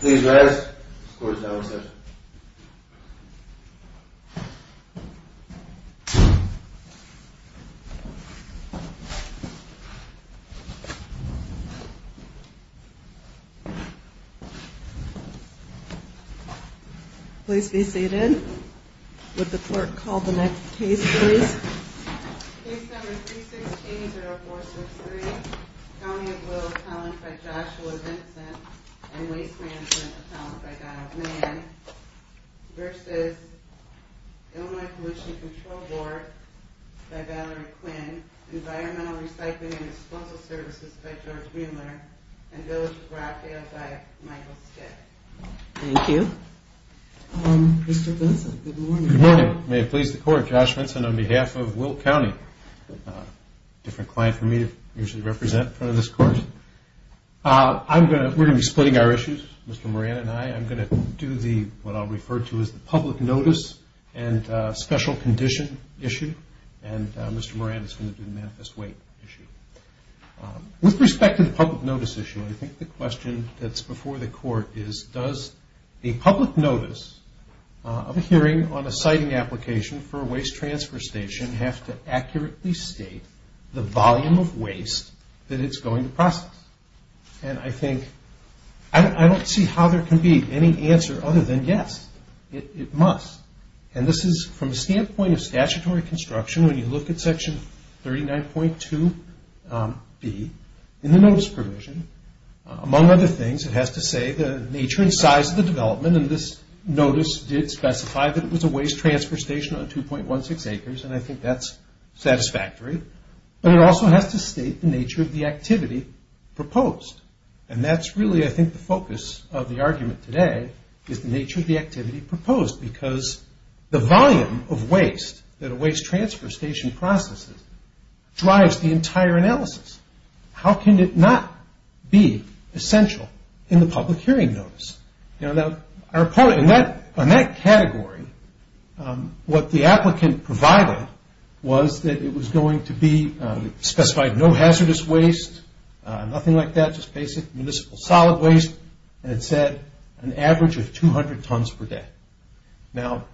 Please rest. The court is now in session. Please be seated. Would the clerk call the next case please? Case number 316-0463, County of Will, account by Joshua Vincent and waste management account by Donald Mann versus Illinois Pollution Control Board by Valerie Quinn, Environmental Recycling and Disposal Services by George Mueller and Village of Rockdale by Michael Skid. Thank you. Mr. Benson, good morning. Good morning. May it please the court, Joshua Benson on behalf of Will County, a different client for me to usually represent in front of this court. We're going to be splitting our issues, Mr. Moran and I. I'm going to do what I'll refer to as the public notice and special condition issue, and Mr. Moran is going to do the manifest weight issue. With respect to the public notice issue, I think the question that's before the court is, does a public notice of a hearing on a siting application for a waste transfer station have to accurately state the volume of waste that it's going to process? And I think, I don't see how there can be any answer other than yes, it must. And this is from a standpoint of statutory construction when you look at section 39.2b in the notice provision. Among other things, it has to say the nature and size of the development, and this notice did specify that it was a waste transfer station on 2.16 acres, and I think that's satisfactory. But it also has to state the nature of the activity proposed. And that's really, I think, the focus of the argument today is the nature of the activity proposed, because the volume of waste that a waste transfer station processes drives the entire analysis. How can it not be essential in the public hearing notice? In that category, what the applicant provided was that it was going to be specified no hazardous waste, nothing like that, just basic municipal solid waste, and it said an average of 200 tons per day. Now,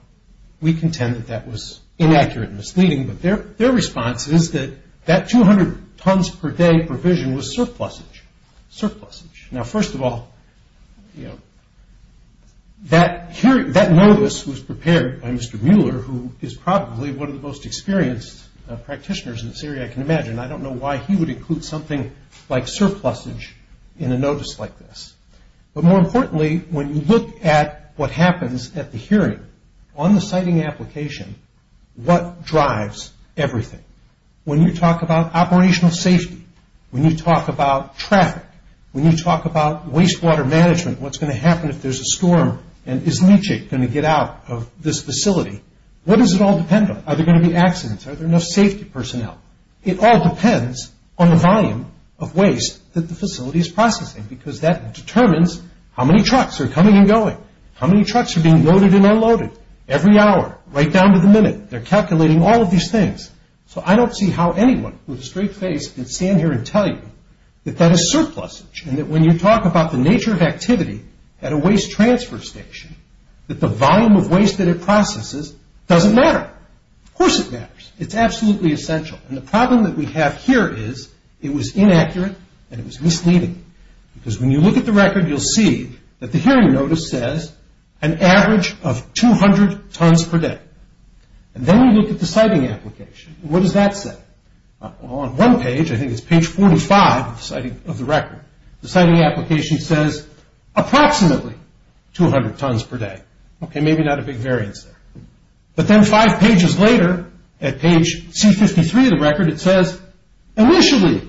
we contend that that was inaccurate and misleading, but their response is that that 200 tons per day provision was surplusage. Now, first of all, that notice was prepared by Mr. Mueller, who is probably one of the most experienced practitioners in this area, I can imagine. I don't know why he would include something like surplusage in a notice like this. But more importantly, when you look at what happens at the hearing on the siting application, what drives everything? When you talk about operational safety, when you talk about traffic, when you talk about wastewater management, what's going to happen if there's a storm, and is Nietzsche going to get out of this facility? What does it all depend on? Are there going to be accidents? Are there enough safety personnel? It all depends on the volume of waste that the facility is processing, because that determines how many trucks are coming and going, how many trucks are being loaded and unloaded every hour, right down to the minute. They're calculating all of these things. So I don't see how anyone with a straight face could stand here and tell you that that is surplusage, and that when you talk about the nature of activity at a waste transfer station, that the volume of waste that it processes doesn't matter. Of course it matters. It's absolutely essential. And the problem that we have here is it was inaccurate and it was misleading, because when you look at the record, you'll see that the hearing notice says an average of 200 tons per day. And then we look at the siting application. What does that say? On one page, I think it's page 45 of the record, the siting application says approximately 200 tons per day. Okay, maybe not a big variance there. But then five pages later, at page C53 of the record, it says initially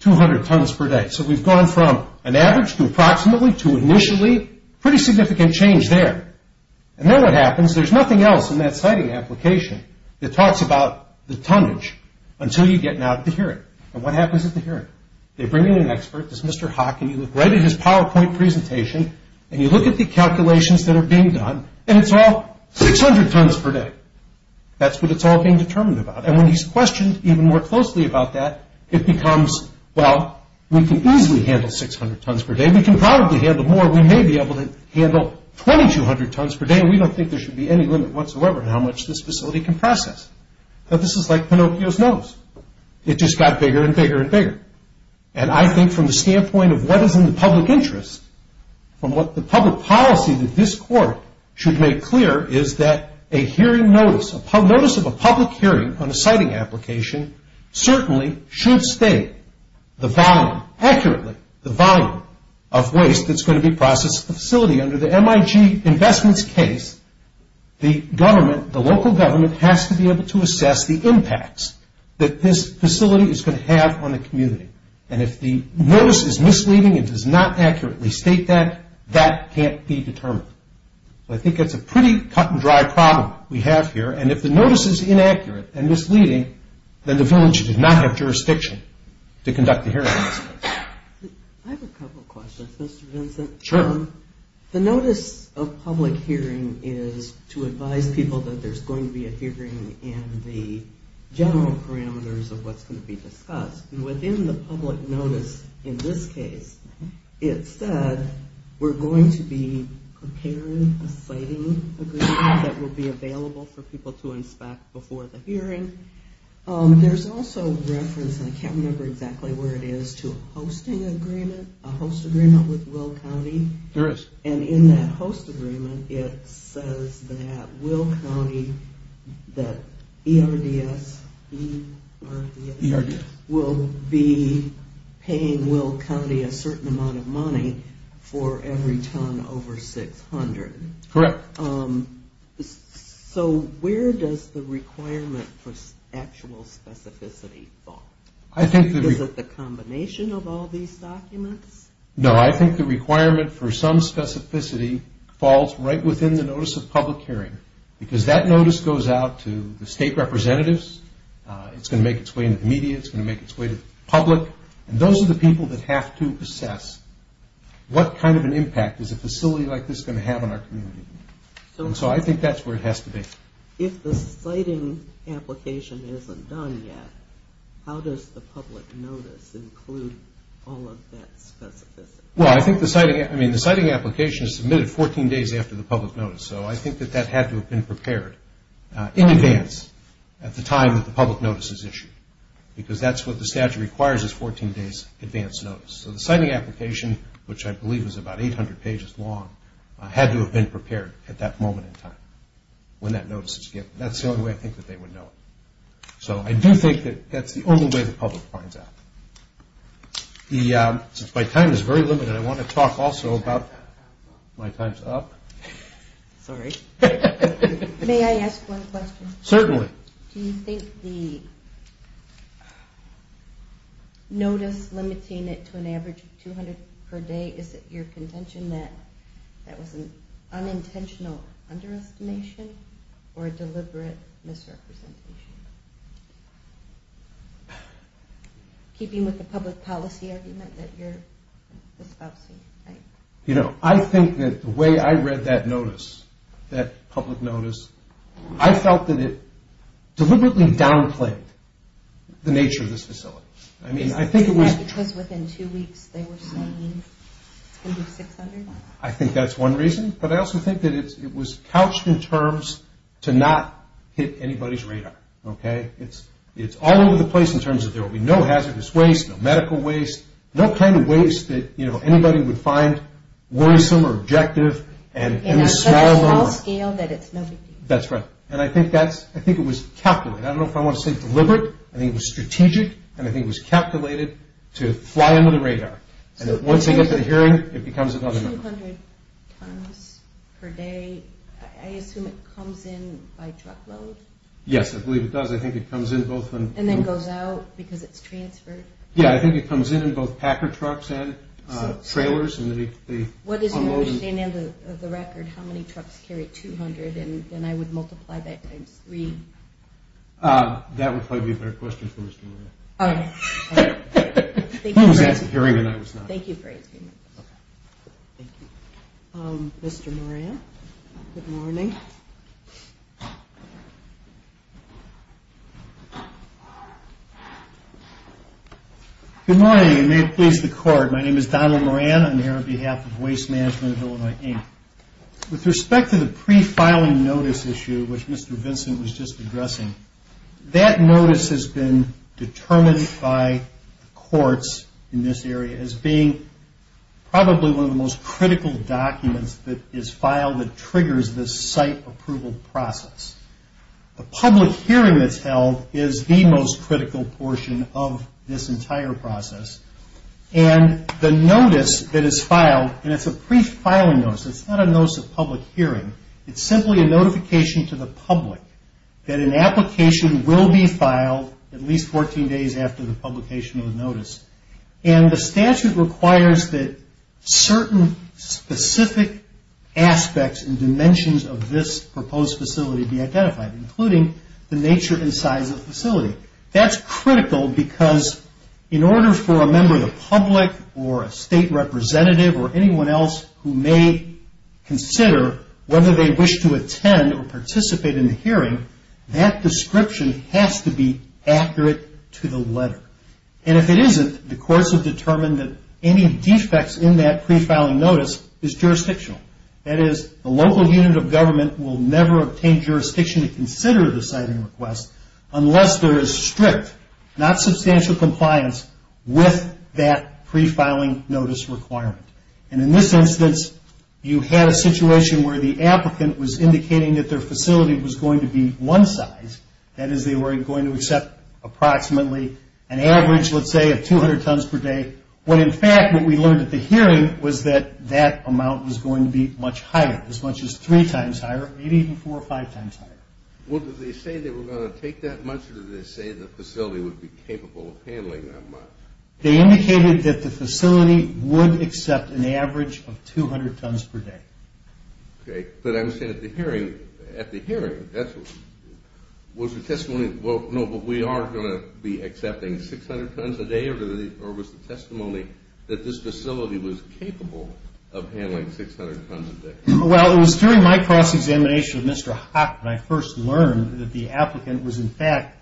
200 tons per day. So we've gone from an average to approximately to initially, pretty significant change there. And then what happens, there's nothing else in that siting application that talks about the tonnage until you get now to the hearing. And what happens at the hearing? They bring in an expert, this Mr. Hock, and you look right at his PowerPoint presentation, and you look at the calculations that are being done, and it's all 600 tons per day. That's what it's all being determined about. And when he's questioned even more closely about that, it becomes, well, we can easily handle 600 tons per day. We can probably handle more. We may be able to handle 2,200 tons per day, and we don't think there should be any limit whatsoever on how much this facility can process. This is like Pinocchio's nose. It just got bigger and bigger and bigger. And I think from the standpoint of what is in the public interest, from what the public policy that this court should make clear is that a hearing notice, a notice of a public hearing on a siting application certainly should state the volume, accurately, the volume of waste that's going to be processed at the facility. Under the MIG investments case, the government, the local government, has to be able to assess the impacts that this facility is going to have on the community. And if the notice is misleading and does not accurately state that, that can't be determined. So I think that's a pretty cut-and-dry problem we have here. And if the notice is inaccurate and misleading, then the village does not have jurisdiction to conduct the hearing in this case. I have a couple of questions, Mr. Vincent. Sure. The notice of public hearing is to advise people that there's going to be a hearing and the general parameters of what's going to be discussed. And within the public notice in this case, it said we're going to be preparing a siting agreement that will be available for people to inspect before the hearing. There's also reference, and I can't remember exactly where it is, to a hosting agreement, a host agreement with Will County. And in that host agreement, it says that Will County, that ERDS, E-R-D-S, will be paying Will County a certain amount of money for every ton over 600. Correct. So where does the requirement for actual specificity fall? Is it the combination of all these documents? No, I think the requirement for some specificity falls right within the notice of public hearing because that notice goes out to the state representatives. It's going to make its way into the media. It's going to make its way to the public. And those are the people that have to assess what kind of an impact is a facility like this going to have on our community. And so I think that's where it has to be. If the siting application isn't done yet, how does the public notice include all of that specificity? Well, I think the siting application is submitted 14 days after the public notice. So I think that that had to have been prepared in advance at the time that the public notice is issued because that's what the statute requires is 14 days advance notice. So the siting application, which I believe is about 800 pages long, had to have been prepared at that moment in time when that notice is given. That's the only way I think that they would know it. So I do think that that's the only way the public finds out. My time is very limited. I want to talk also about my time's up. Sorry. May I ask one question? Certainly. Do you think the notice limiting it to an average of 200 per day, is it your contention that that was an unintentional underestimation or a deliberate misrepresentation? Keeping with the public policy argument that you're espousing, right? You know, I think that the way I read that notice, that public notice, I felt that it deliberately downplayed the nature of this facility. Is it because within two weeks they were saying it's going to be 600? I think that's one reason. But I also think that it was couched in terms to not hit anybody's radar. Okay? It's all over the place in terms of there will be no hazardous waste, no medical waste, no kind of waste that, you know, anybody would find worrisome or objective. And on a small scale that it's no big deal. That's right. And I think it was calculated. I don't know if I want to say deliberate. And I think it was calculated to fly under the radar. And once they get to the hearing, it becomes another number. So 200 tons per day, I assume it comes in by truckload? Yes, I believe it does. I think it comes in both. And then goes out because it's transferred? Yeah, I think it comes in in both packer trucks and trailers. What is your understanding of the record? How many trucks carry 200? And then I would multiply that times three. That would probably be a better question for Mr. Moore. Okay. Thank you for asking. Who was at the hearing and I was not? Thank you for asking. Okay. Thank you. Mr. Moran, good morning. Good morning, and may it please the Court. My name is Donald Moran. I'm here on behalf of Waste Management of Illinois, Inc. With respect to the pre-filing notice issue, which Mr. Vincent was just addressing, that notice has been determined by the courts in this area as being probably one of the most critical documents that is filed that triggers this site approval process. The public hearing that's held is the most critical portion of this entire process. And the notice that is filed, and it's a pre-filing notice. It's not a notice of public hearing. It's simply a notification to the public that an application will be filed at least 14 days after the publication of the notice. And the statute requires that certain specific aspects and dimensions of this proposed facility be identified, including the nature and size of the facility. That's critical because in order for a member of the public or a state representative or anyone else who may consider whether they wish to attend or participate in the hearing, that description has to be accurate to the letter. And if it isn't, the courts have determined that any defects in that pre-filing notice is jurisdictional. That is, the local unit of government will never obtain jurisdiction to consider the siting request unless there is strict, not substantial compliance with that pre-filing notice requirement. And in this instance, you had a situation where the applicant was indicating that their facility was going to be one size. That is, they were going to accept approximately an average, let's say, of 200 tons per day, when in fact what we learned at the hearing was that that amount was going to be much higher, as much as three times higher, maybe even four or five times higher. Well, did they say they were going to take that much, or did they say the facility would be capable of handling that much? They indicated that the facility would accept an average of 200 tons per day. Okay, but I'm saying at the hearing, was the testimony, well, no, but we are going to be accepting 600 tons a day, or was the testimony that this facility was capable of handling 600 tons a day? Well, it was during my cross-examination with Mr. Haack that I first learned that the applicant was, in fact,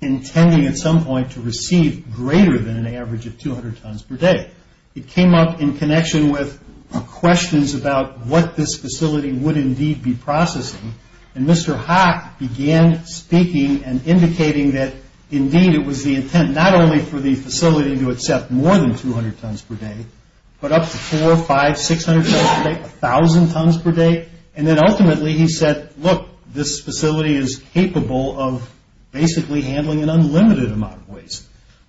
intending at some point to receive greater than an average of 200 tons per day. It came up in connection with questions about what this facility would indeed be processing, and Mr. Haack began speaking and indicating that, indeed, it was the intent not only for the facility to accept more than 200 tons per day, but up to four, five, 600 tons per day, 1,000 tons per day, and then ultimately he said, look, this facility is capable of basically handling an unlimited amount of waste,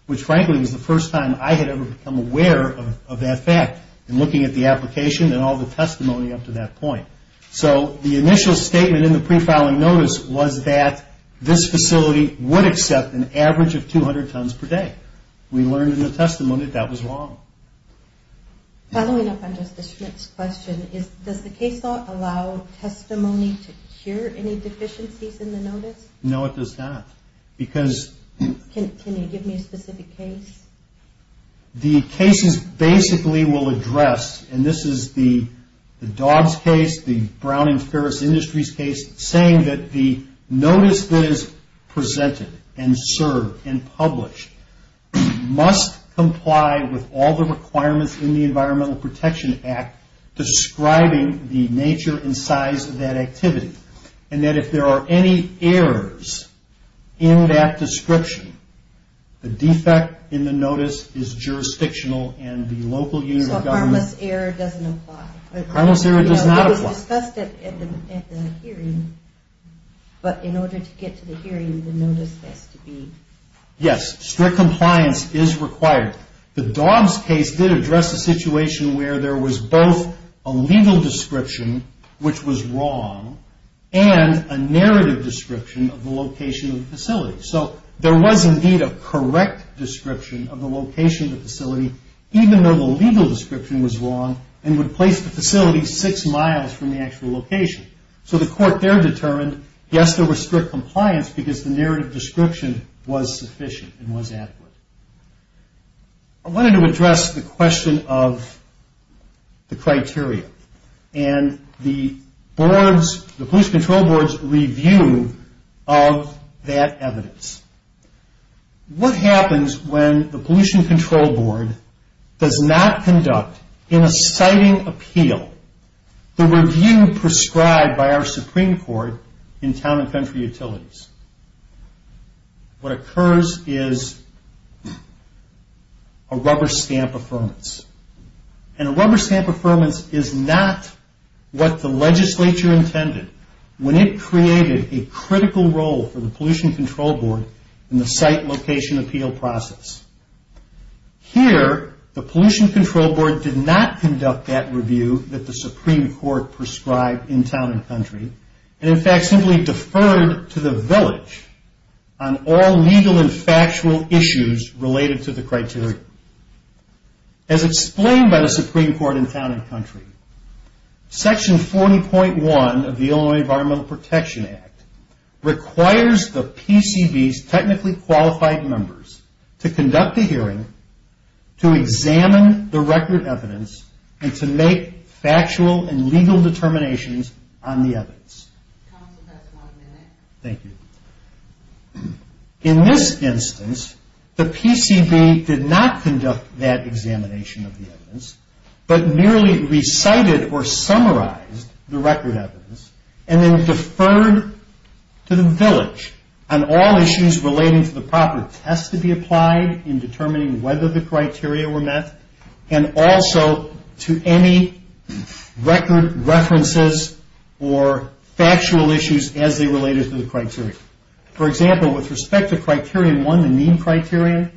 which, frankly, was the first time I had ever become aware of that fact in looking at the application and all the testimony up to that point. So the initial statement in the pre-filing notice was that this facility would accept an average of 200 tons per day. We learned in the testimony that that was wrong. Following up on Justice Schmidt's question, does the case law allow testimony to cure any deficiencies in the notice? No, it does not. Can you give me a specific case? The cases basically will address, and this is the Dobbs case, the Brown and Ferris Industries case, saying that the notice that is presented and served and published must comply with all the requirements in the Environmental Protection Act describing the nature and size of that activity and that if there are any errors in that description, the defect in the notice is jurisdictional and the local unit of government... So harmless error doesn't apply. Harmless error does not apply. It was discussed at the hearing, but in order to get to the hearing the notice has to be... Yes, strict compliance is required. The Dobbs case did address a situation where there was both a legal description which was wrong and a narrative description of the location of the facility. So there was indeed a correct description of the location of the facility even though the legal description was wrong and would place the facility six miles from the actual location. So the court there determined, yes, there was strict compliance because the narrative description was sufficient and was adequate. I wanted to address the question of the criteria and the pollution control board's review of that evidence. What happens when the pollution control board does not conduct in a citing appeal the review prescribed by our Supreme Court in town and country utilities? What occurs is a rubber stamp affirmance. And a rubber stamp affirmance is not what the legislature intended when it created a critical role for the pollution control board in the site location appeal process. Here, the pollution control board did not conduct that review that the Supreme Court prescribed in town and country and in fact simply deferred to the village on all legal and factual issues related to the criteria. As explained by the Supreme Court in town and country, section 40.1 of the Illinois Environmental Protection Act requires the PCB's technically qualified members to conduct a hearing to examine the record evidence and to make factual and legal determinations on the evidence. Thank you. In this instance, the PCB did not conduct that examination of the evidence but merely recited or summarized the record evidence and then deferred to the village on all issues relating to the property. There are tests to be applied in determining whether the criteria were met and also to any record references or factual issues as they related to the criteria. For example, with respect to Criterion 1, the Meme Criterion,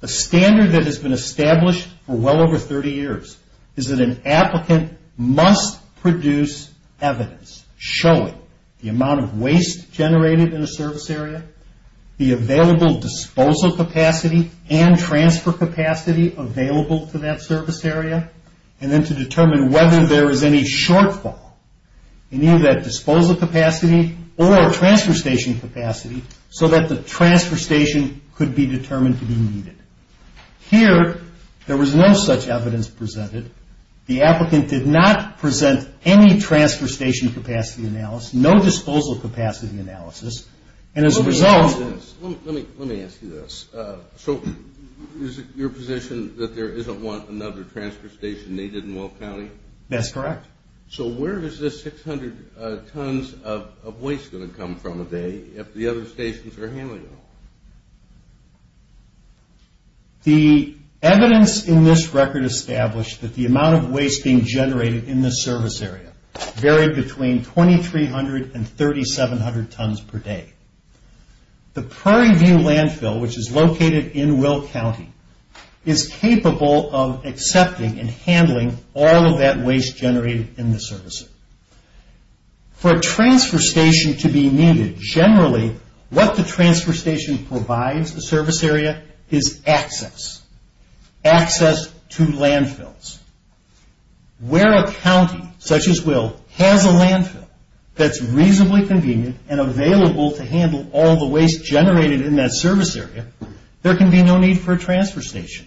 the standard that has been established for well over 30 years is that an applicant must produce evidence showing the amount of waste generated in a service area, the available disposal capacity and transfer capacity available to that service area, and then to determine whether there is any shortfall in either that disposal capacity or transfer station capacity so that the transfer station could be determined to be needed. Here, there was no such evidence presented. The applicant did not present any transfer station capacity analysis, no disposal capacity analysis, and as a result... Let me ask you this. So is it your position that there isn't another transfer station needed in Will County? That's correct. So where is this 600 tons of waste going to come from a day if the other stations are handling it all? The evidence in this record established that the amount of waste being generated in the service area varied between 2,300 and 3,700 tons per day. The Prairie View Landfill, which is located in Will County, is capable of accepting and handling all of that waste generated in the service area. For a transfer station to be needed, generally what the transfer station provides the service area is access, access to landfills. Where a county such as Will has a landfill that's reasonably convenient and available to handle all the waste generated in that service area, there can be no need for a transfer station.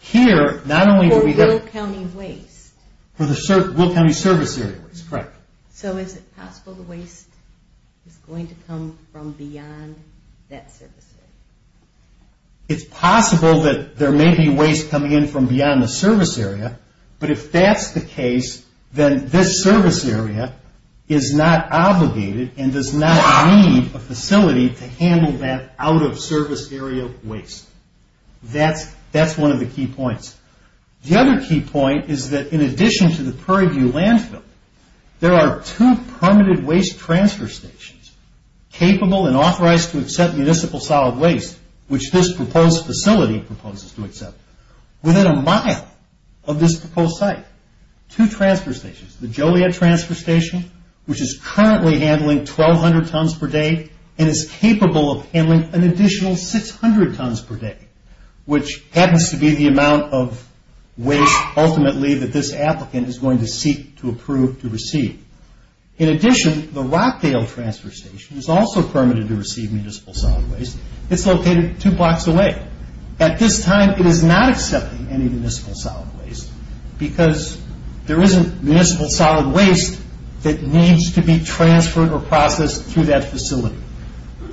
Here, not only... For Will County waste? For the Will County service area waste, correct. So is it possible the waste is going to come from beyond that service area? It's possible that there may be waste coming in from beyond the service area, but if that's the case, then this service area is not obligated and does not need a facility to handle that out-of-service area waste. That's one of the key points. The other key point is that in addition to the Prairie View Landfill, there are two permitted waste transfer stations capable and authorized to accept municipal solid waste, which this proposed facility proposes to accept, within a mile of this proposed site. Two transfer stations, the Joliet Transfer Station, which is currently handling 1,200 tons per day and is capable of handling an additional 600 tons per day, which happens to be the amount of waste ultimately that this applicant is going to seek to approve to receive. In addition, the Rockdale Transfer Station is also permitted to receive municipal solid waste. It's located two blocks away. At this time, it is not accepting any municipal solid waste because there isn't municipal solid waste that needs to be transferred or processed through that facility.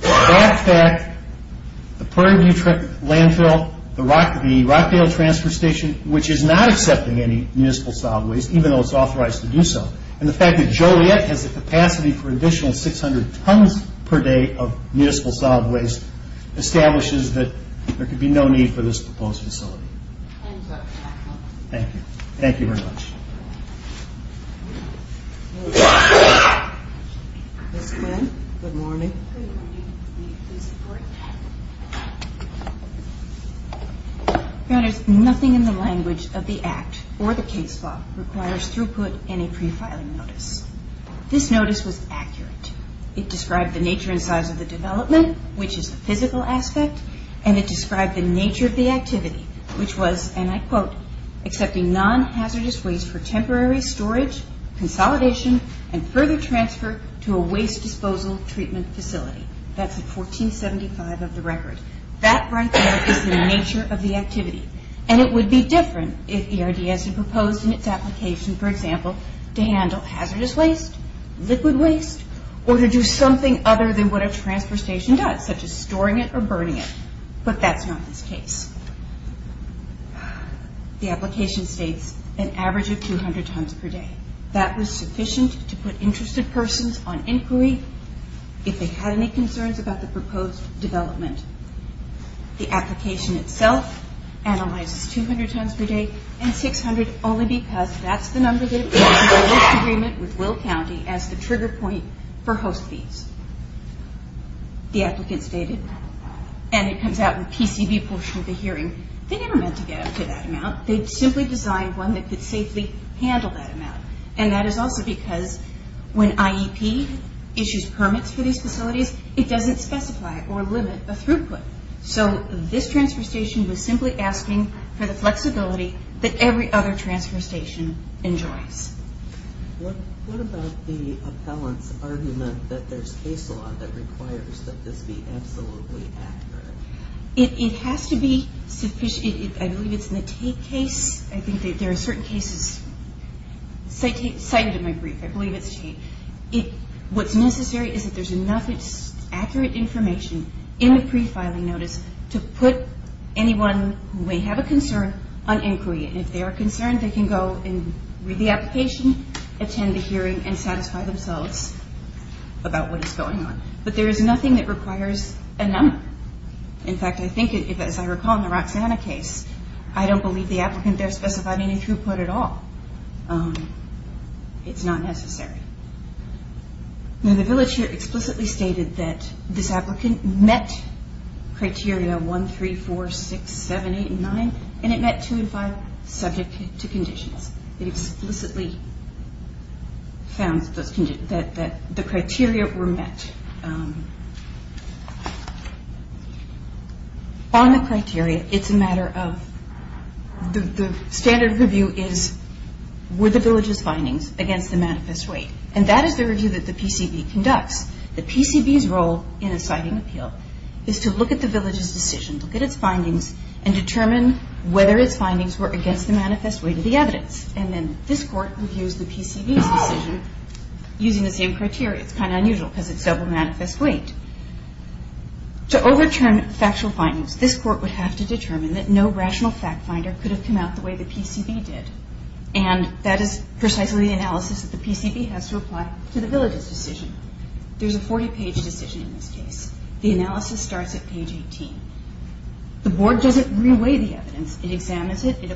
That fact, the Prairie View Landfill, the Rockdale Transfer Station, which is not accepting any municipal solid waste, even though it's authorized to do so, and the fact that Joliet has the capacity for an additional 600 tons per day of municipal solid waste establishes that there could be no need for this proposed facility. Thank you. Thank you very much. There is nothing in the language of the Act or the case law that requires throughput in a prefiling notice. This notice was accurate. It described the nature and size of the development, which is a physical aspect, and it described the nature of the activity, which was, and I quote, accepting non-hazardous waste for temporary storage, consolidation, and further transfer to a waste disposal treatment facility. That's at 1475 of the record. That right there is the nature of the activity, and it would be different if ERDS had proposed in its application, for example, to handle hazardous waste, liquid waste, or to do something other than what a transfer station does, such as storing it or burning it, but that's not this case. The application states an average of 200 tons per day. That was sufficient to put interested persons on inquiry if they had any concerns about the proposed development. The application itself analyzes 200 tons per day and 600 only because that's the number that appears in the list agreement with Will County as the trigger point for host fees. The applicant stated, and it comes out in the PCB portion of the hearing, they never meant to get up to that amount. They simply designed one that could safely handle that amount, and that is also because when IEP issues permits for these facilities, it doesn't specify or limit a throughput. So this transfer station was simply asking for the flexibility that every other transfer station enjoys. What about the appellant's argument that there's case law that requires that this be absolutely accurate? It has to be sufficient. I believe it's in the Tate case. I think there are certain cases cited in my brief. I believe it's Tate. What's necessary is that there's enough accurate information in the pre-filing notice to put anyone who may have a concern on inquiry, and if they are concerned, they can go and read the application, attend the hearing, and satisfy themselves about what is going on. But there is nothing that requires a number. In fact, I think, as I recall in the Roxanna case, I don't believe the applicant there specified any throughput at all. It's not necessary. Now, the villager explicitly stated that this applicant met criteria 1, 3, 4, 6, 7, 8, and 9, and it met 2 and 5 subject to conditions. It explicitly found that the criteria were met. On the criteria, it's a matter of the standard review is, were the villagers' findings against the manifest weight? And that is the review that the PCB conducts. The PCB's role in a citing appeal is to look at the village's decision, look at its findings, and determine whether its findings were against the manifest weight of the evidence. And then this Court reviews the PCB's decision using the same criteria. It's kind of unusual because it's double manifest weight. To overturn factual findings, this Court would have to determine that no rational fact finder could have come out the way the PCB did. And that is precisely the analysis that the PCB has to apply to the village's decision. There's a 40-page decision in this case. The analysis starts at page 18. The Board doesn't re-weigh the evidence. It examines it, it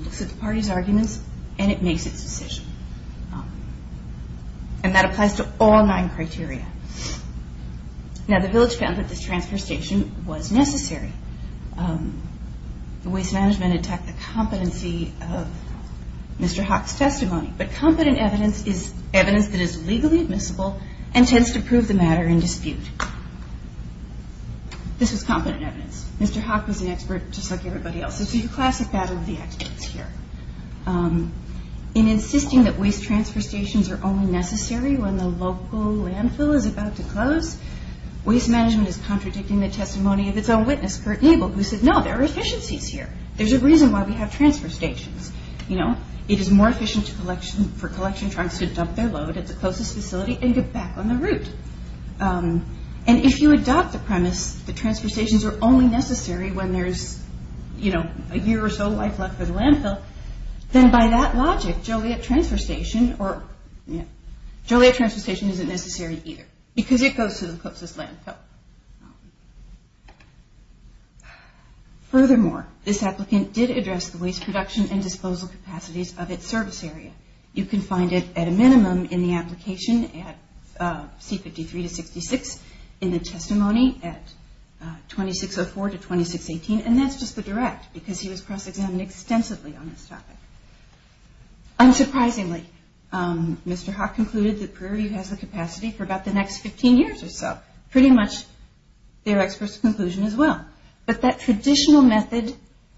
looks at the party's arguments, and it makes its decision. And that applies to all nine criteria. Now, the village found that this transfer station was necessary. Waste management attacked the competency of Mr. Hock's testimony. But competent evidence is evidence that is legally admissible and tends to prove the matter in dispute. This was competent evidence. Mr. Hock was an expert just like everybody else. It's a classic battle of the experts here. In insisting that waste transfer stations are only necessary when the local landfill is about to close, waste management is contradicting the testimony of its own witness, Kurt Nabel, who said, no, there are efficiencies here. There's a reason why we have transfer stations. It is more efficient for collection trucks to dump their load at the closest facility and get back on the route. And if you adopt the premise that transfer stations are only necessary when there's a year or so of life left for the landfill, then by that logic, Joliet Transfer Station isn't necessary either because it goes to the closest landfill. Furthermore, this applicant did address the waste production and disposal capacities of its service area. You can find it at a minimum in the application at C53-66, in the testimony at 2604-2618, and that's just the direct because he was cross-examined extensively on this topic. Unsurprisingly, Mr. Hawk concluded that Prairie View has the capacity for about the next 15 years or so. Pretty much their expert's conclusion as well. But that traditional method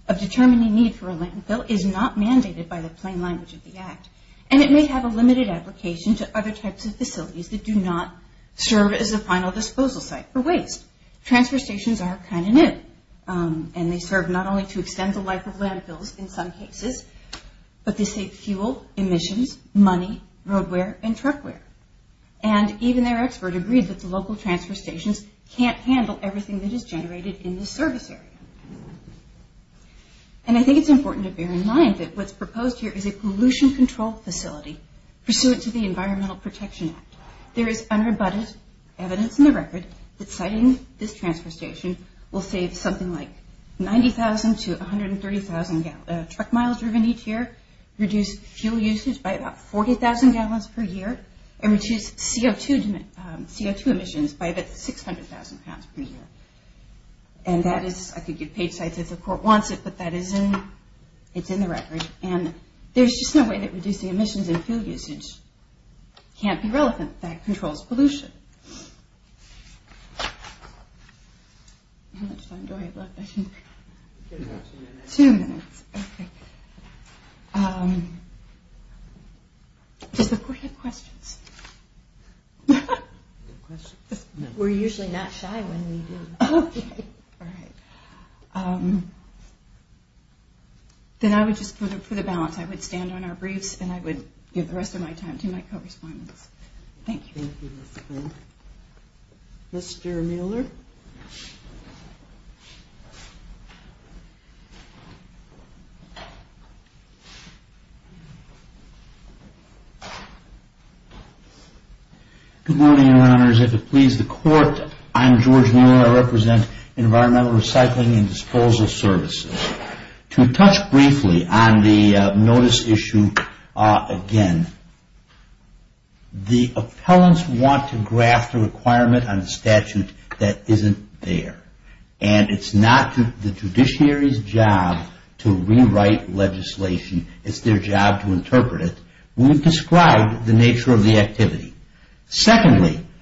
of determining the need for a landfill is not mandated by the plain language of the Act, and it may have a limited application to other types of facilities that do not serve as a final disposal site for waste. Transfer stations are kind of new, and they serve not only to extend the life of landfills in some cases, but they save fuel, emissions, money, road wear, and truck wear. And even their expert agreed that the local transfer stations can't handle everything that is generated in the service area. And I think it's important to bear in mind that what's proposed here is a pollution control facility pursuant to the Environmental Protection Act. There is unrebutted evidence in the record that siting this transfer station will save something like 90,000 to 130,000 truck miles driven each year, reduce fuel usage by about 40,000 gallons per year, and reduce CO2 emissions by about 600,000 pounds per year. And that is, I could give page sites if the court wants it, but that is in, it's in the record, and there's just no way that reducing emissions and fuel usage can't be relevant. That controls pollution. How much time do I have left? Two minutes. Two minutes. Okay. Does the court have questions? We're usually not shy when we do. Okay. All right. Then I would just, for the balance, I would stand on our briefs, and I would give the rest of my time to my co-respondents. Thank you. Mr. Mueller. Good morning, Your Honors. If it please the court, I'm George Mueller. I represent Environmental Recycling and Disposal Services. To touch briefly on the notice issue again, the appellants want to graft a requirement on a statute that isn't there. And it's not the judiciary's job to rewrite legislation. It's their job to interpret it. We've described the nature of the activity.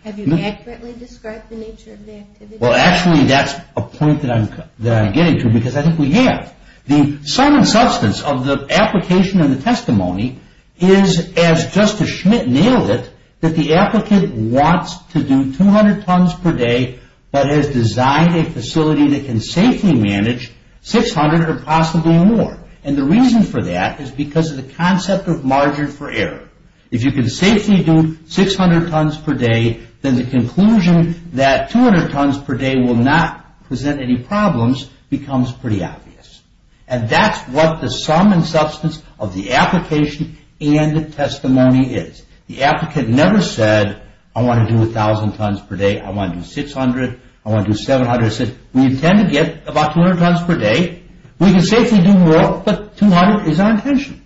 Have you accurately described the nature of the activity? Well, actually, that's a point that I'm getting to because I think we have. The sum and substance of the application and the testimony is, as Justice Schmitt nailed it, that the applicant wants to do 200 tons per day but has designed a facility that can safely manage 600 or possibly more. And the reason for that is because of the concept of margin for error. If you can safely do 600 tons per day, then the conclusion that 200 tons per day will not present any problems becomes pretty obvious. And that's what the sum and substance of the application and the testimony is. The applicant never said, I want to do 1,000 tons per day. I want to do 600. I want to do 700. He said, we intend to get about 200 tons per day. We can safely do more, but 200 is our intention.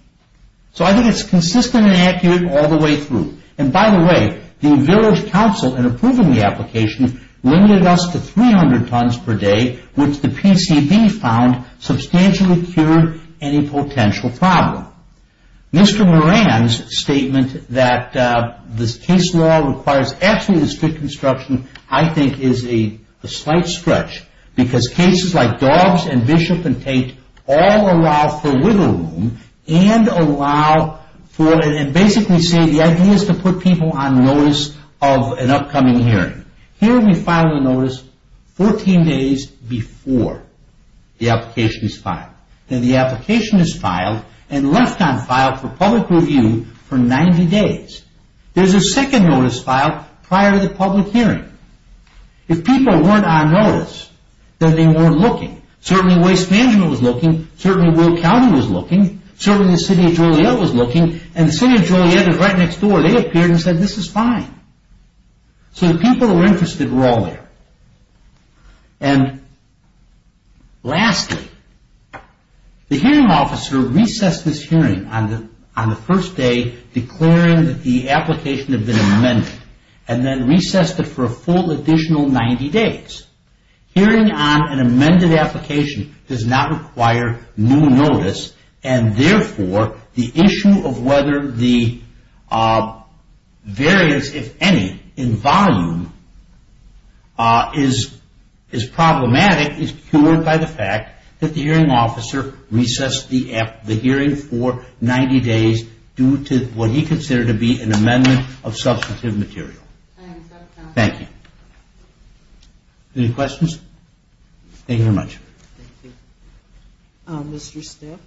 So, I think it's consistent and accurate all the way through. And, by the way, the village council, in approving the application, limited us to 300 tons per day, which the PCB found substantially cured any potential problem. Mr. Moran's statement that this case law requires absolutely strict instruction, I think, is a slight stretch because cases like Dawes and Bishop and Tate all allow for wiggle room and basically say the idea is to put people on notice of an upcoming hearing. Here we file a notice 14 days before the application is filed. Then the application is filed and left on file for public review for 90 days. There's a second notice filed prior to the public hearing. If people weren't on notice, then they weren't looking. Certainly, Waste Management was looking. Certainly, Will County was looking. Certainly, the City of Joliet was looking. And the City of Joliet is right next door. They appeared and said, this is fine. So, the people who were interested were all there. And, lastly, the hearing officer recessed this hearing on the first day, declaring that the application had been amended, and then recessed it for a full additional 90 days. Hearing on an amended application does not require new notice, and, therefore, the issue of whether the variance, if any, in volume is problematic is cured by the fact that the hearing officer recessed the hearing for 90 days due to what he considered to be an amendment of substantive material. Thank you. Any questions? Thank you very much. Thank you. Mr. Stiff?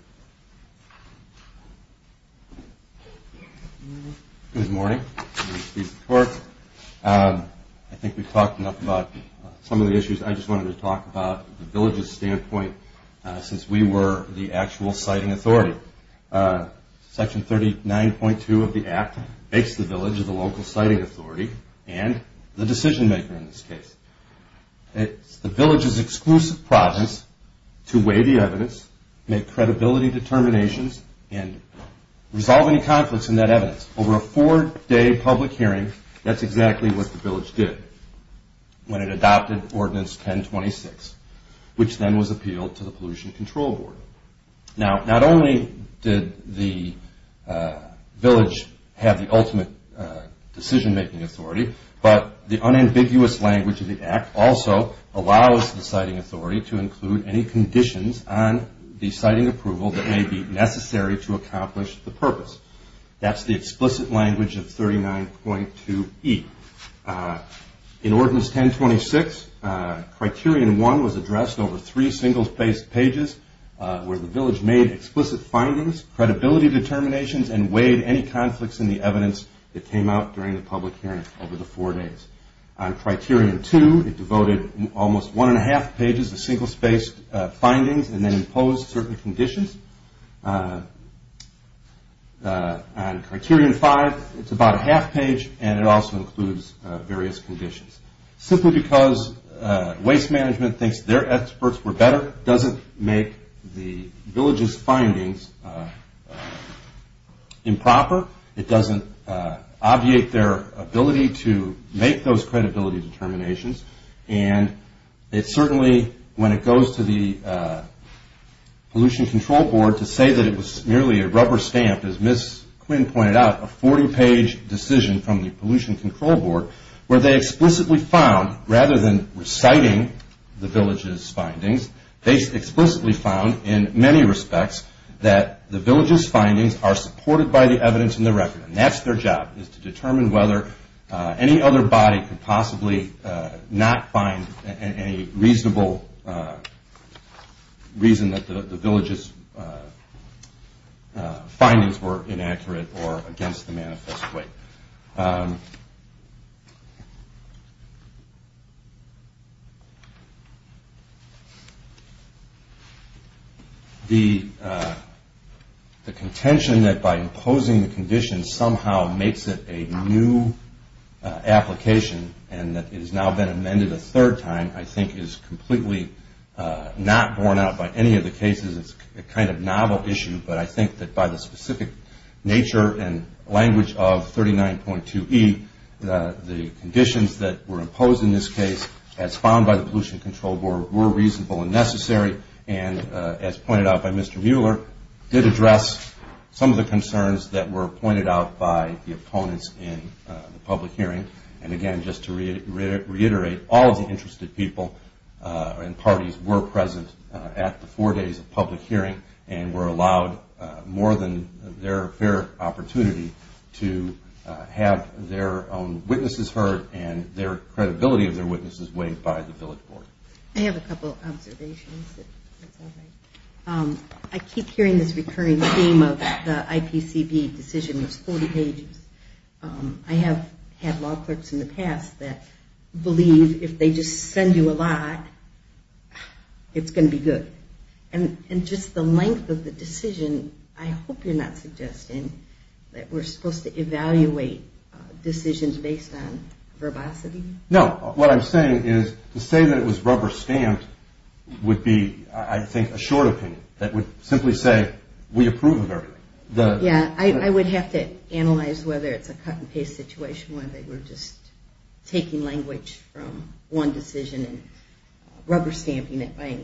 Good morning. I'm Steve Stifford. I think we've talked enough about some of the issues. I just wanted to talk about the village's standpoint, since we were the actual siting authority. Section 39.2 of the Act makes the village the local siting authority and the decision maker in this case. It's the village's exclusive process to weigh the evidence, make credibility determinations, and resolve any conflicts in that evidence. Over a four-day public hearing, that's exactly what the village did when it adopted Ordinance 1026, which then was appealed to the Pollution Control Board. Now, not only did the village have the ultimate decision-making authority, but the unambiguous language of the Act also allows the siting authority to include any conditions on the siting approval that may be necessary to accomplish the purpose. That's the explicit language of 39.2E. In Ordinance 1026, Criterion 1 was addressed over three single-spaced pages where the village made explicit findings, credibility determinations, and weighed any conflicts in the evidence that came out during the public hearing over the four days. On Criterion 2, it devoted almost one-and-a-half pages to single-spaced findings and then imposed certain conditions. On Criterion 5, it's about a half-page, and it also includes various conditions. Simply because Waste Management thinks their experts were better doesn't make the village's findings improper. It doesn't obviate their ability to make those credibility determinations, and it certainly, when it goes to the Pollution Control Board, to say that it was merely a rubber stamp, as Ms. Quinn pointed out, a 40-page decision from the Pollution Control Board, where they explicitly found, rather than reciting the village's findings, they explicitly found, in many respects, that the village's findings are supported by the evidence in the record. And that's their job, is to determine whether any other body could possibly not find any reasonable reason that the village's findings were inaccurate or against the manifest weight. The contention that by imposing the condition somehow makes it a new application and that it has now been amended a third time, I think, is completely not borne out by any of the cases. It's a kind of novel issue, but I think that by the specific nature and language of 39.2E, the conditions that were imposed in this case, as found by the Pollution Control Board, were reasonable and necessary, and as pointed out by Mr. Mueller, did address some of the concerns that were pointed out by the opponents in the public hearing. And again, just to reiterate, all of the interested people and parties were present at the four days of public hearing and were allowed more than their fair opportunity to have their own witnesses heard and their credibility of their witnesses weighed by the village board. I have a couple of observations. I keep hearing this recurring theme of the IPCB decision was 40 pages. I have had law clerks in the past that believe if they just send you a lot, it's going to be good. And just the length of the decision, I hope you're not suggesting that we're supposed to evaluate decisions based on verbosity? No. What I'm saying is to say that it was rubber stamped would be, I think, a short opinion that would simply say we approve of everything. Yeah. I would have to analyze whether it's a cut-and-paste situation where they were just taking language from one decision and rubber stamping it by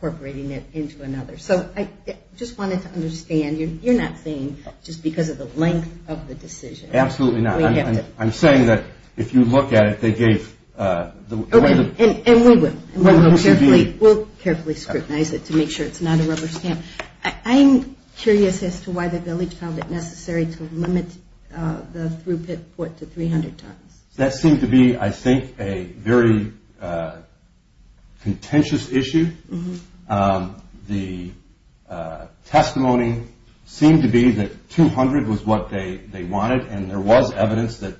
incorporating it into another. So I just wanted to understand. You're not saying just because of the length of the decision. Absolutely not. I'm saying that if you look at it, they gave the way the – And we will. We'll carefully scrutinize it to make sure it's not a rubber stamp. I'm curious as to why the village found it necessary to limit the throughput to 300 tons. That seemed to be, I think, a very contentious issue. The testimony seemed to be that 200 was what they wanted, and there was evidence that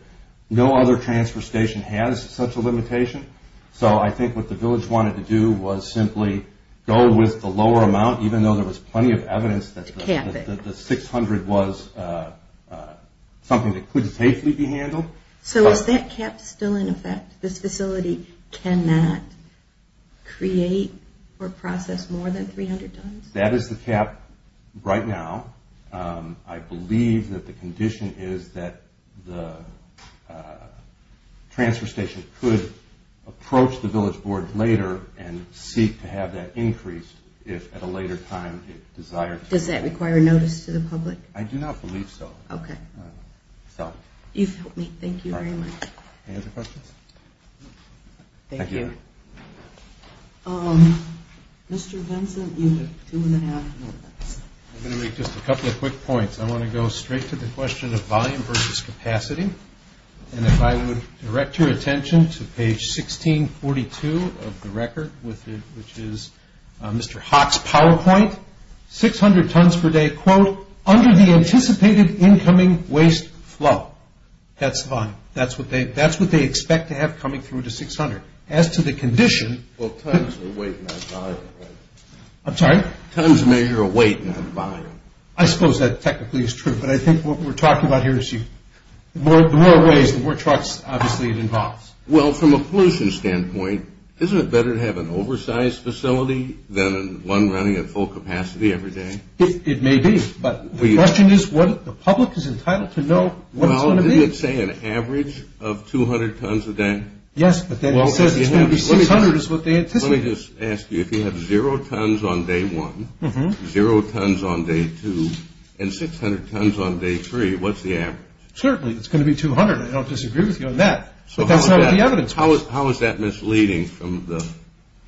no other transfer station has such a limitation. So I think what the village wanted to do was simply go with the lower amount, even though there was plenty of evidence that the 600 was something that could safely be handled. So is that cap still in effect? This facility cannot create or process more than 300 tons? That is the cap right now. I believe that the condition is that the transfer station could approach the village board later and seek to have that increased if at a later time it desired to. Does that require notice to the public? I do not believe so. Okay. You've helped me. Thank you very much. Any other questions? Thank you. Mr. Benson, you have two and a half minutes. I'm going to make just a couple of quick points. I want to go straight to the question of volume versus capacity. And if I would direct your attention to page 1642 of the record, which is Mr. Haack's PowerPoint, 600 tons per day, quote, under the anticipated incoming waste flow. That's fine. That's what they expect to have coming through to 600. As to the condition. Well, tons are weight, not volume. I'm sorry? Tons measure weight, not volume. I suppose that technically is true. But I think what we're talking about here is the more waste, the more trucks obviously it involves. Well, from a pollution standpoint, isn't it better to have an oversized facility than one running at full capacity every day? It may be. But the question is what the public is entitled to know what it's going to be. Well, didn't it say an average of 200 tons a day? Yes, but then it says it's going to be 600 is what they anticipated. Let me just ask you, if you have zero tons on day one, zero tons on day two, and 600 tons on day three, what's the average? Certainly, it's going to be 200. I don't disagree with you on that. But that's not what the evidence was. How is that misleading?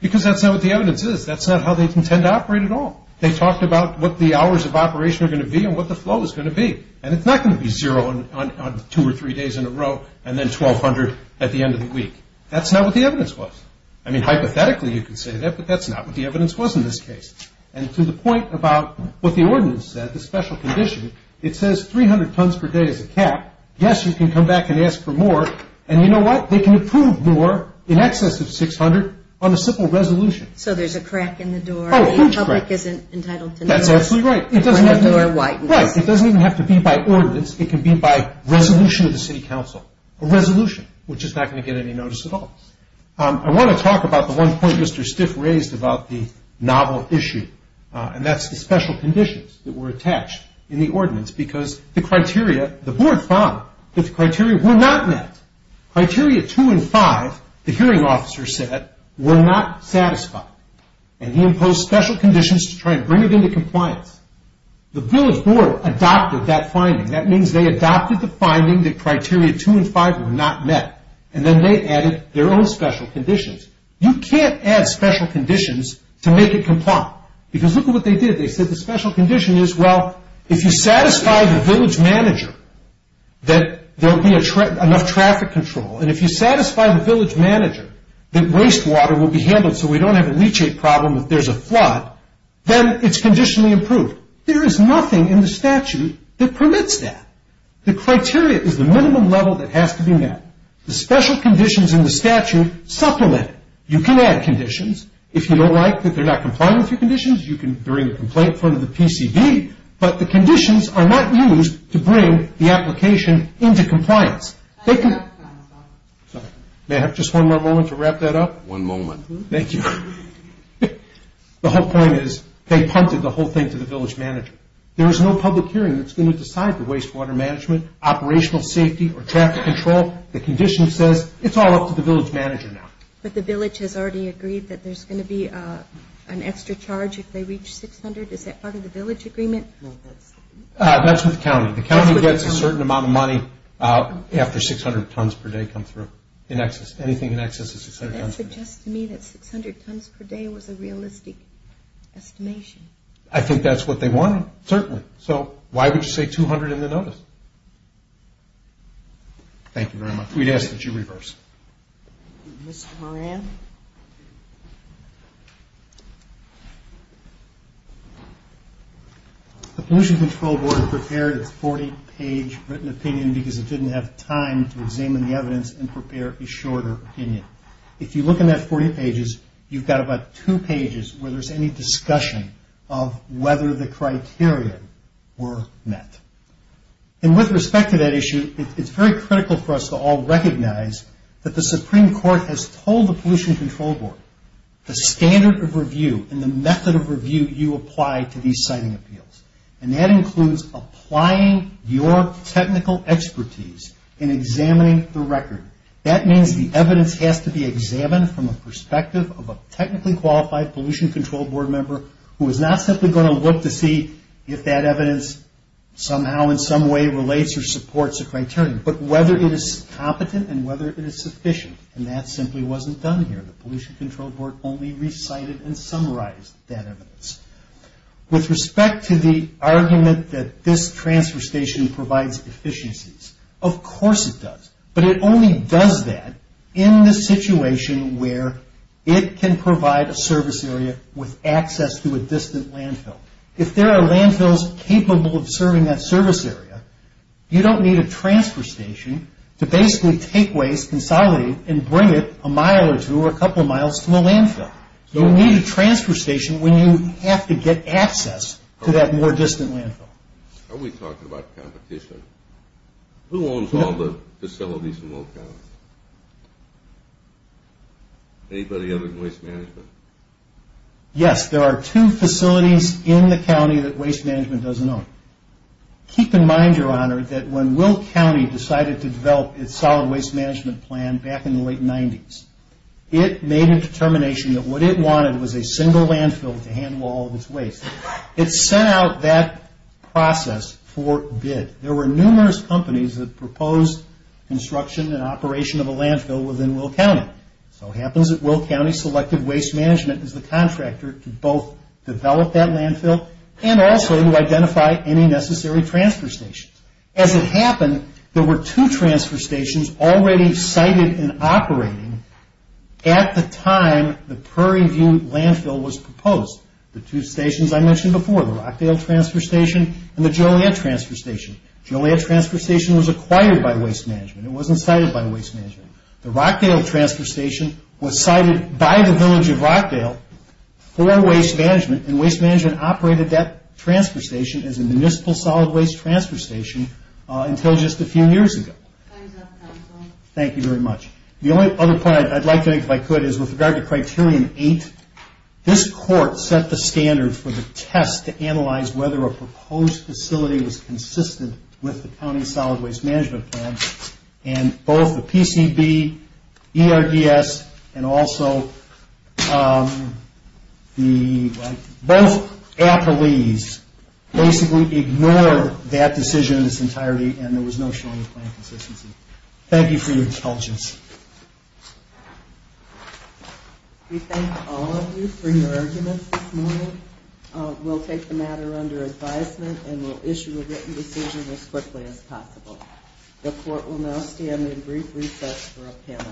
Because that's not what the evidence is. That's not how they intend to operate at all. They talked about what the hours of operation are going to be and what the flow is going to be. And it's not going to be zero on two or three days in a row and then 1,200 at the end of the week. That's not what the evidence was. I mean, hypothetically you could say that, but that's not what the evidence was in this case. And to the point about what the ordinance said, the special condition, it says 300 tons per day is a cap. Yes, you can come back and ask for more. And you know what? They can approve more in excess of 600 on a simple resolution. So there's a crack in the door. Oh, a huge crack. The public isn't entitled to know. That's absolutely right. It doesn't even have to be by ordinance. It can be by resolution of the city council, a resolution, which is not going to get any notice at all. I want to talk about the one point Mr. Stiff raised about the novel issue, and that's the special conditions that were attached in the ordinance because the board found that the criteria were not met. Criteria 2 and 5, the hearing officer said, were not satisfied. And he imposed special conditions to try and bring it into compliance. The village board adopted that finding. That means they adopted the finding that criteria 2 and 5 were not met, and then they added their own special conditions. You can't add special conditions to make it compliant because look at what they did. They said the special condition is, well, if you satisfy the village manager that there will be enough traffic control, and if you satisfy the village manager that waste water will be handled so we don't have a leachate problem if there's a flood, then it's conditionally approved. There is nothing in the statute that permits that. The criteria is the minimum level that has to be met. The special conditions in the statute supplement it. You can add conditions. If you don't like that they're not complying with your conditions, you can bring a complaint in front of the PCB, but the conditions are not used to bring the application into compliance. May I have just one more moment to wrap that up? One moment. Thank you. The whole point is they punted the whole thing to the village manager. There is no public hearing that's going to decide the waste water management, operational safety, or traffic control. The condition says it's all up to the village manager now. But the village has already agreed that there's going to be an extra charge if they reach 600. Is that part of the village agreement? That's with the county. The county gets a certain amount of money after 600 tons per day come through. Anything in excess is 600 tons per day. But that suggests to me that 600 tons per day was a realistic estimation. I think that's what they wanted, certainly. So why would you say 200 in the notice? Thank you very much. We'd ask that you reverse. Mr. Moran? The Pollution Control Board prepared its 40-page written opinion because it didn't have time to examine the evidence and prepare a shorter opinion. If you look in that 40 pages, you've got about two pages where there's any discussion of whether the criteria were met. With respect to that issue, it's very critical for us to all recognize that the Supreme Court has told the Pollution Control Board the standard of review and the method of review you apply to these siting appeals. That includes applying your technical expertise in examining the record. That means the evidence has to be examined from the perspective of a technically qualified Pollution Control Board member who is not simply going to look to see if that evidence somehow, in some way, relates or supports a criterion, but whether it is competent and whether it is sufficient. And that simply wasn't done here. The Pollution Control Board only recited and summarized that evidence. With respect to the argument that this transfer station provides efficiencies, of course it does. But it only does that in the situation where it can provide a service area with access to a distant landfill. If there are landfills capable of serving that service area, you don't need a transfer station to basically take waste, consolidate, and bring it a mile or two or a couple of miles to a landfill. You need a transfer station when you have to get access to that more distant landfill. Are we talking about competition? Who owns all the facilities in Will County? Anybody other than Waste Management? Yes, there are two facilities in the county that Waste Management doesn't own. Keep in mind, Your Honor, that when Will County decided to develop its solid waste management plan back in the late 90s, it made a determination that what it wanted was a single landfill to handle all of its waste. It sent out that process for bid. There were numerous companies that proposed construction and operation of a landfill within Will County. So it happens that Will County selected Waste Management as the contractor to both develop that landfill and also to identify any necessary transfer stations. As it happened, there were two transfer stations already sited and operating at the time the Prairie View landfill was proposed. The two stations I mentioned before, the Rockdale Transfer Station and the Joliet Transfer Station. Joliet Transfer Station was acquired by Waste Management. It wasn't sited by Waste Management. The Rockdale Transfer Station was sited by the village of Rockdale for Waste Management, and Waste Management operated that transfer station as a municipal solid waste transfer station until just a few years ago. Time's up, counsel. Thank you very much. The only other point I'd like to make, if I could, is with regard to Criterion 8. This court set the standard for the test to analyze whether a proposed facility was consistent with the County Solid Waste Management Plan, and both the PCB, ERDS, and also both APLEES basically ignored that decision in its entirety, and there was no showing of plan consistency. Thank you for your intelligence. We thank all of you for your arguments this morning. We'll take the matter under advisement, and we'll issue a written decision as quickly as possible. The court will now stand in brief recess for a panel of change. Congratulations.